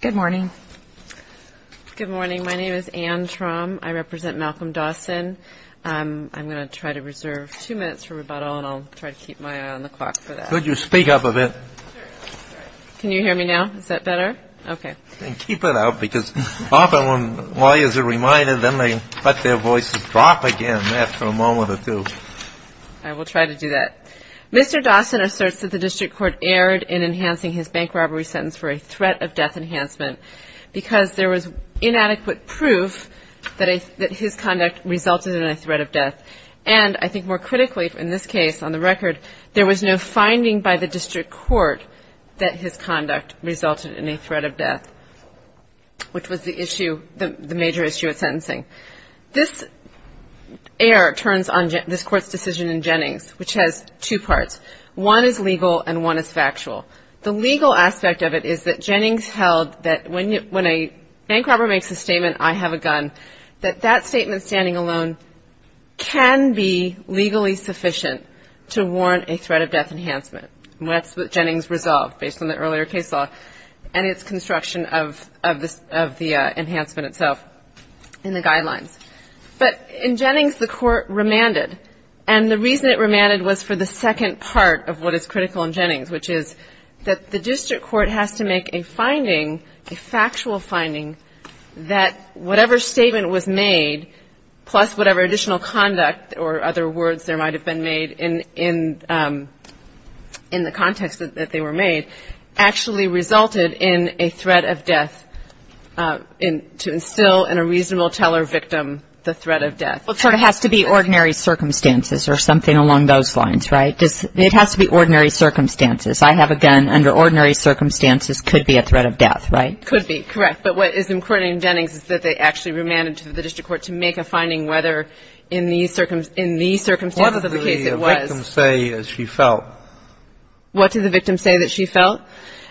Good morning. Good morning. My name is Anne Trom. I represent Malcolm Dawson. I'm going to try to reserve two minutes for rebuttal, and I'll try to keep my eye on the clock for that. Could you speak up a bit? Can you hear me now? Is that better? Okay. Keep it up, because often when lawyers are reminded, then they let their voices drop again after a moment or two. I will try to do that. Mr. Dawson asserts that the district court erred in enhancing his bank robbery sentence for a threat of death enhancement because there was inadequate proof that his conduct resulted in a threat of death, and I think more critically in this case, on the record, there was no finding by the district court that his conduct resulted in a threat of death, which was the issue, the major issue at sentencing. This error turns on this court's decision in Jennings, which has two parts. One is legal and one is factual. The legal aspect of it is that Jennings held that when a bank robber makes a statement, I have a gun, that that statement standing alone can be legally sufficient to warrant a threat of death enhancement. And that's what Jennings resolved based on the earlier case law and its construction of the enhancement itself in the guidelines. But in Jennings, the court remanded, and the reason it remanded was for the second part of what is critical in Jennings, which is that the district court has to make a finding, a factual finding, that whatever statement was made, plus whatever additional conduct or other words there might have been made in the context that they were made, actually resulted in a threat of death to instill in a reasonable teller victim the threat of death. Well, it sort of has to be ordinary circumstances or something along those lines, right? It has to be ordinary circumstances. I have a gun. Under ordinary circumstances, it could be a threat of death, right? It could be, correct. But what is important in Jennings is that they actually remanded to the district court to make a finding whether in the circumstances of the case it was. What did the victim say that she felt? What did the victim say that she felt?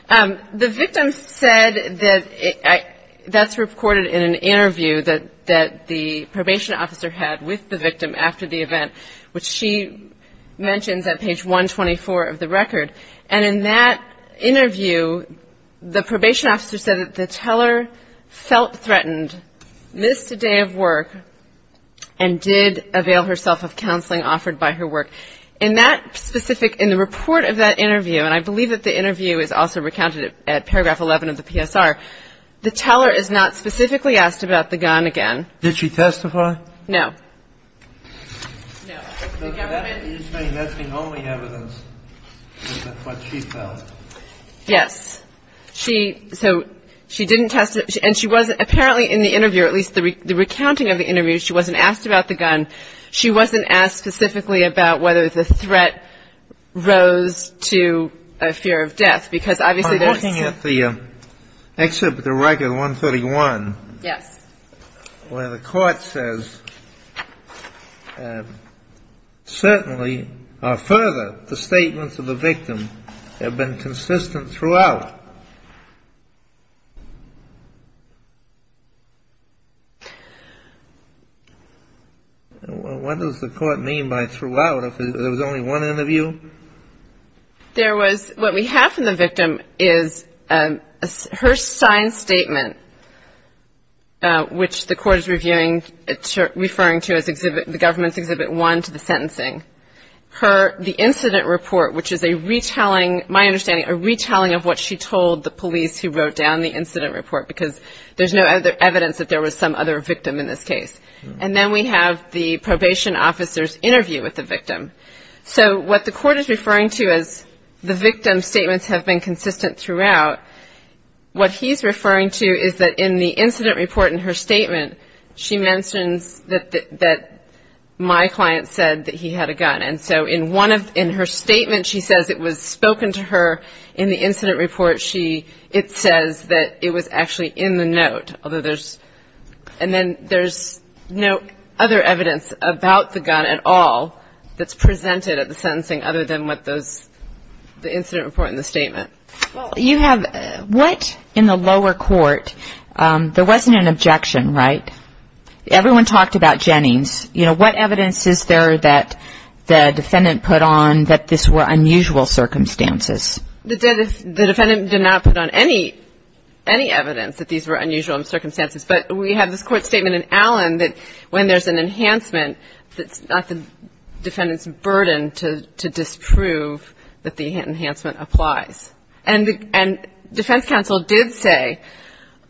The victim said that that's recorded in an interview that the probation officer had with the victim after the event, which she mentions at page 124 of the record. And in that interview, the probation officer said that the teller felt threatened, missed a day of work, and did avail herself of counseling offered by her work. In that specific, in the report of that interview, and I believe that the interview is also recounted at paragraph 11 of the PSR, the teller is not specifically asked about the gun again. Did she testify? No. No. Are you saying that's the only evidence of what she felt? Yes. She, so she didn't testify. And she wasn't, apparently in the interview, at least the recounting of the interview, she wasn't asked about the gun. She wasn't asked specifically about whether the threat rose to a fear of death, because obviously there's. I'm looking at the excerpt of the record 131. Yes. Where the court says, certainly or further, the statements of the victim have been consistent throughout. What does the court mean by throughout? If there was only one interview? There was, what we have from the victim is her signed statement, which the court is referring to as the government's exhibit one to the sentencing. Her, the incident report, which is a retelling, my understanding, a retelling of what she told the police who wrote down the incident report, because there's no other evidence that there was some other victim in this case. And then we have the probation officer's interview with the victim. So what the court is referring to as the victim's statements have been consistent throughout, what he's referring to is that in the incident report in her statement, she mentions that my client said that he had a gun. And so in one of, in her statement, she says it was spoken to her in the incident report. It says that it was actually in the note, although there's, and then there's no other evidence about the gun at all that's presented at the sentencing other than what those, the incident report and the statement. Well, you have, what in the lower court, there wasn't an objection, right? Everyone talked about Jennings. You know, what evidence is there that the defendant put on that this were unusual circumstances? The defendant did not put on any, any evidence that these were unusual circumstances, but we have this court statement in Allen that when there's an enhancement, it's not the defendant's burden to disprove that the enhancement applies. And defense counsel did say,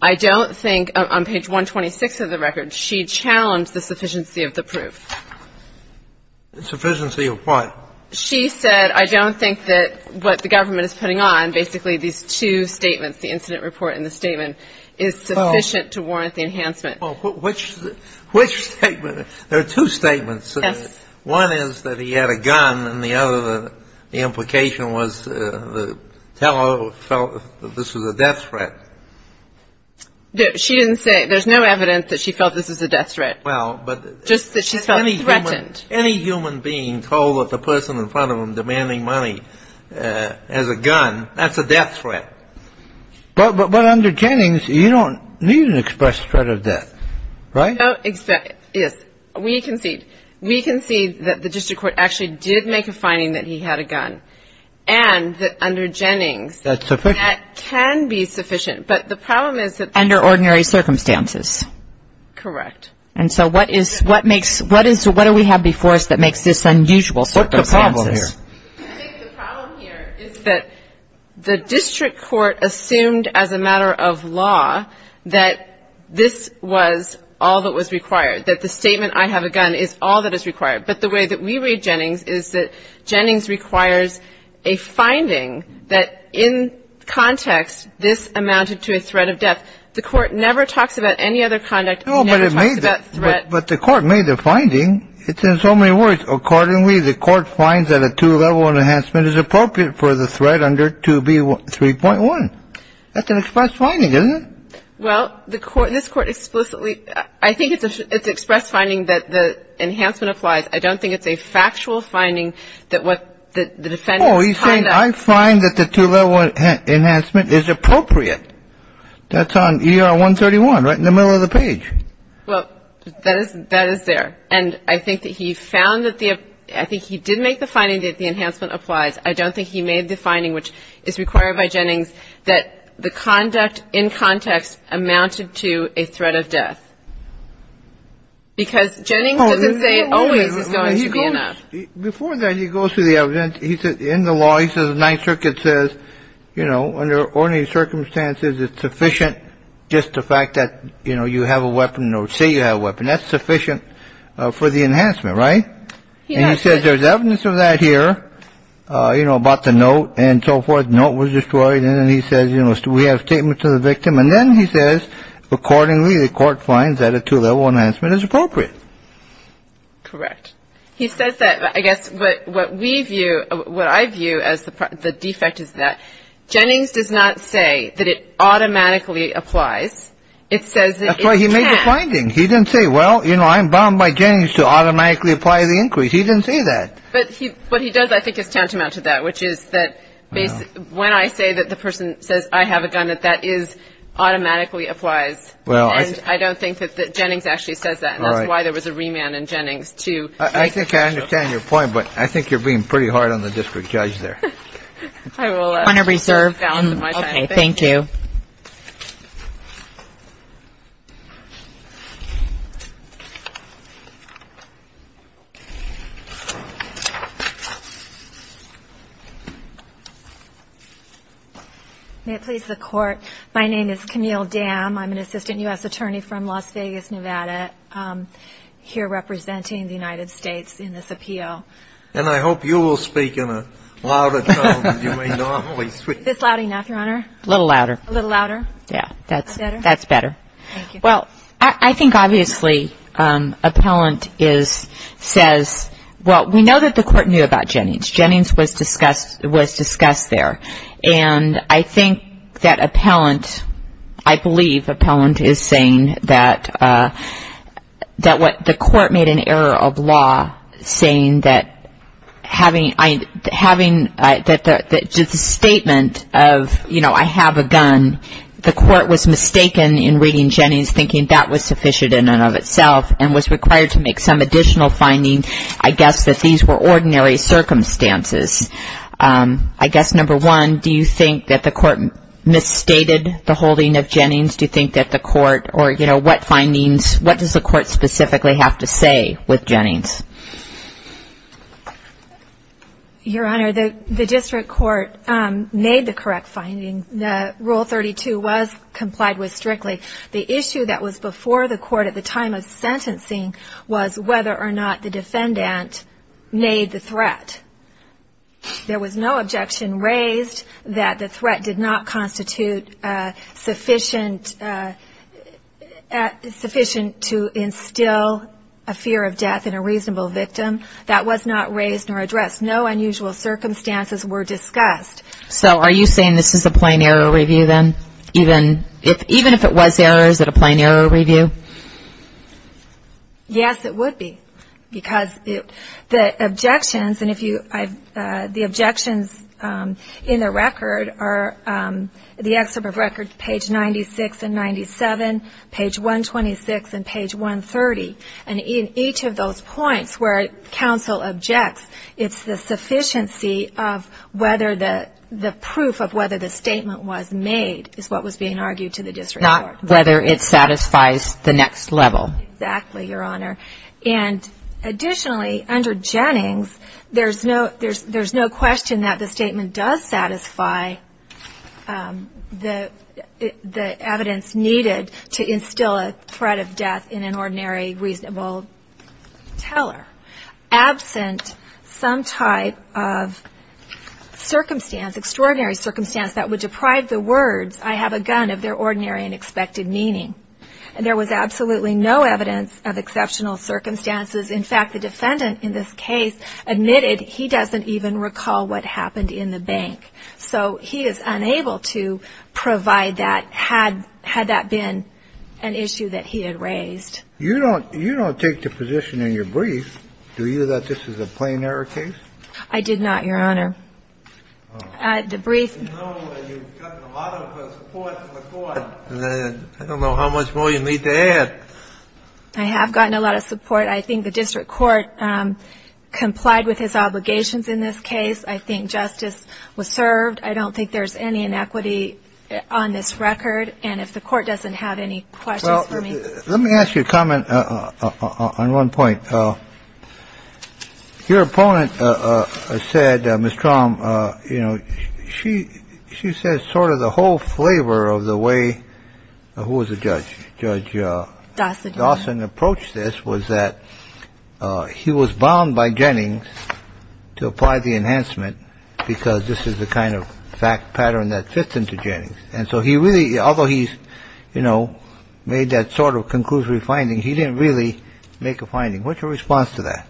I don't think, on page 126 of the record, she challenged the sufficiency of the proof. The sufficiency of what? She said, I don't think that what the government is putting on, basically these two statements, the incident report and the statement, is sufficient to warrant the enhancement. Which statement? There are two statements. Yes. One is that he had a gun, and the other, the implication was the teller felt this was a death threat. She didn't say, there's no evidence that she felt this was a death threat. Well, but. Just that she felt threatened. Any human being told that the person in front of them demanding money has a gun, that's a death threat. But under Jennings, you don't need an express threat of death, right? Yes. We concede. We concede that the district court actually did make a finding that he had a gun, and that under Jennings. That's sufficient. That can be sufficient, but the problem is that. Under ordinary circumstances. Correct. And so what is, what makes, what is, what do we have before us that makes this unusual circumstances? What's the problem here? I think the problem here is that the district court assumed as a matter of law that this was all that was required, that the statement, I have a gun, is all that is required. But the way that we read Jennings is that Jennings requires a finding that in context, this amounted to a threat of death. The court never talks about any other conduct. Never talks about threat. But the court made the finding. It's in so many words. Accordingly, the court finds that a two-level enhancement is appropriate for the threat under 2B3.1. That's an express finding, isn't it? Well, the court, this court explicitly, I think it's an express finding that the enhancement applies. I don't think it's a factual finding that what the defendant. Oh, he's saying I find that the two-level enhancement is appropriate. That's on ER 131, right in the middle of the page. Well, that is there. And I think that he found that the ‑‑ I think he did make the finding that the enhancement applies. I don't think he made the finding, which is required by Jennings, that the conduct in context amounted to a threat of death. Because Jennings doesn't say it always is going to be enough. Before that, he goes through the evidence. In the law, he says the Ninth Circuit says, you know, under ordinary circumstances it's sufficient just the fact that, you know, you have a weapon or say you have a weapon, that's sufficient for the enhancement, right? And he says there's evidence of that here, you know, about the note and so forth. The note was destroyed. And then he says, you know, we have a statement to the victim. And then he says, accordingly, the court finds that a two-level enhancement is appropriate. Correct. He says that. I guess what we view, what I view as the defect is that Jennings does not say that it automatically applies. It says that it can't. That's why he made the finding. He didn't say, well, you know, I'm bound by Jennings to automatically apply the increase. He didn't say that. But what he does, I think, is tantamount to that, which is that when I say that the person says, I have a gun, that that is automatically applies. And I don't think that Jennings actually says that. And that's why there was a remand in Jennings to make the judgment. I think I understand your point. But I think you're being pretty hard on the district judge there. On a reserve. Okay. Thank you. May it please the Court. My name is Camille Dam. I'm an assistant U.S. attorney from Las Vegas, Nevada, here representing the United States in this appeal. And I hope you will speak in a louder tone than you may normally speak. Is this loud enough, Your Honor? A little louder. A little louder? Yeah. That's better. Thank you. Well, I think, obviously, appellant says, well, we know that the Court knew about Jennings. Jennings was discussed there. And I think that appellant, I believe appellant is saying that the Court made an error of law, saying that having the statement of, you know, I have a gun, the Court was mistaken in reading Jennings, thinking that was sufficient in and of itself, and was required to make some additional finding. I guess that these were ordinary circumstances. I guess, number one, do you think that the Court misstated the holding of Jennings? Do you think that the Court or, you know, what findings, what does the Court specifically have to say with Jennings? Your Honor, the district court made the correct finding. Rule 32 was complied with strictly. The issue that was before the Court at the time of sentencing was whether or not the defendant made the threat. There was no objection raised that the threat did not constitute sufficient to instill a fear of death in a reasonable victim. That was not raised nor addressed. No unusual circumstances were discussed. So are you saying this is a plain error review then? Even if it was error, is it a plain error review? Yes, it would be. Because the objections, and if you, the objections in the record are, the excerpt of record page 96 and 97, page 126 and page 130, and in each of those points where counsel objects, it's the sufficiency of whether the proof of whether the statement was made is what was being argued to the district court. Not whether it satisfies the next level. Exactly, Your Honor. And additionally, under Jennings, there's no question that the statement does satisfy the evidence needed to instill a threat of death in an ordinary reasonable teller. Absent some type of circumstance, extraordinary circumstance that would deprive the words, I have a gun, of their ordinary and expected meaning. And there was absolutely no evidence of exceptional circumstances. In fact, the defendant in this case admitted he doesn't even recall what happened in the bank. So he is unable to provide that had that been an issue that he had raised. You don't take the position in your brief, do you, that this is a plain error case? I did not, Your Honor. The brief. You've gotten a lot of support from the court. I don't know how much more you need to add. I have gotten a lot of support. I think the district court complied with his obligations in this case. I think justice was served. I don't think there's any inequity on this record. And if the court doesn't have any questions for me. Let me ask you a comment on one point. Your opponent said, Mr. Traum, you know, she she says sort of the whole flavor of the way. Who was the judge? Judge Dawson. Dawson approached this was that he was bound by Jennings to apply the enhancement because this is the kind of fact pattern that fits into Jennings. And so he really although he's, you know, made that sort of conclusive finding. He didn't really make a finding. What's your response to that?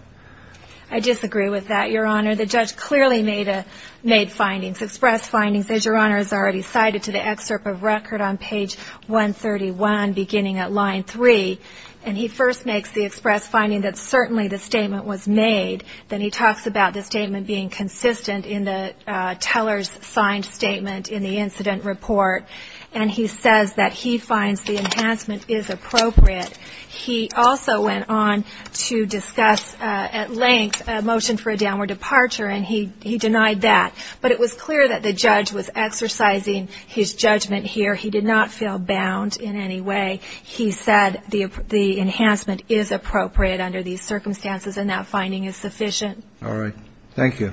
I disagree with that, Your Honor. The judge clearly made a made findings express findings, as Your Honor has already cited to the excerpt of record on page 131, beginning at line three. And he first makes the express finding that certainly the statement was made. Then he talks about the statement being consistent in the teller's signed statement in the incident report. And he says that he finds the enhancement is appropriate. He also went on to discuss at length a motion for a downward departure, and he denied that. But it was clear that the judge was exercising his judgment here. He did not feel bound in any way. He said the enhancement is appropriate under these circumstances, and that finding is sufficient. All right. Thank you.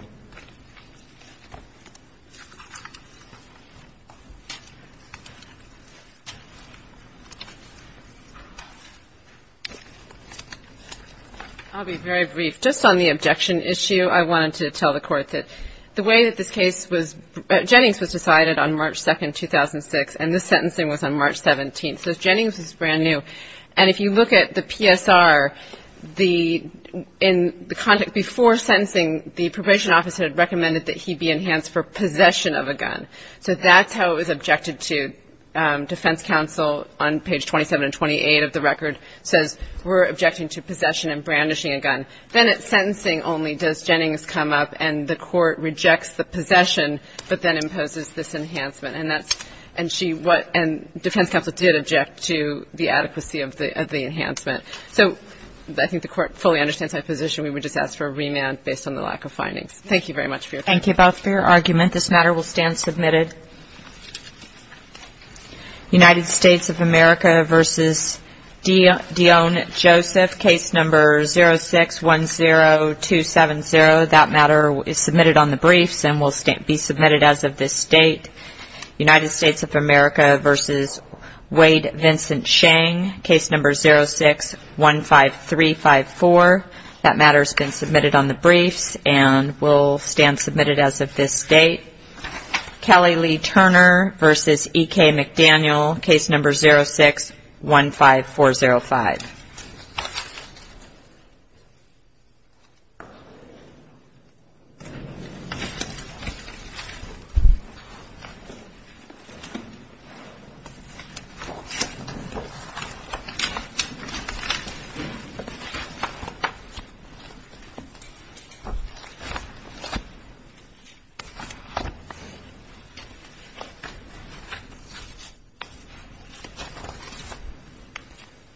I'll be very brief. Just on the objection issue, I wanted to tell the Court that the way that this case was ‑‑ Jennings was decided on March 2, 2006, and this sentencing was on March 17. So Jennings was brand new. And if you look at the PSR, the ‑‑ in the context before sentencing, the probation office had recommended that he be enhanced for possession of a gun. So that's how it was objected to. Defense counsel on page 27 and 28 of the record says we're objecting to possession and brandishing a gun. Then at sentencing only does Jennings come up, and the Court rejects the possession, but then imposes this enhancement. And defense counsel did object to the adequacy of the enhancement. So I think the Court fully understands my position. We would just ask for a remand based on the lack of findings. Thank you very much for your time. Thank you both for your argument. This matter will stand submitted. United States of America v. Dion Joseph, case number 0610270. Submitted on the briefs and will be submitted as of this date. United States of America v. Wade Vincent Chang, case number 0615354. That matter has been submitted on the briefs and will stand submitted as of this date. Kelly Lee Turner v. E.K. McDaniel, case number 0615405. Thank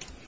you.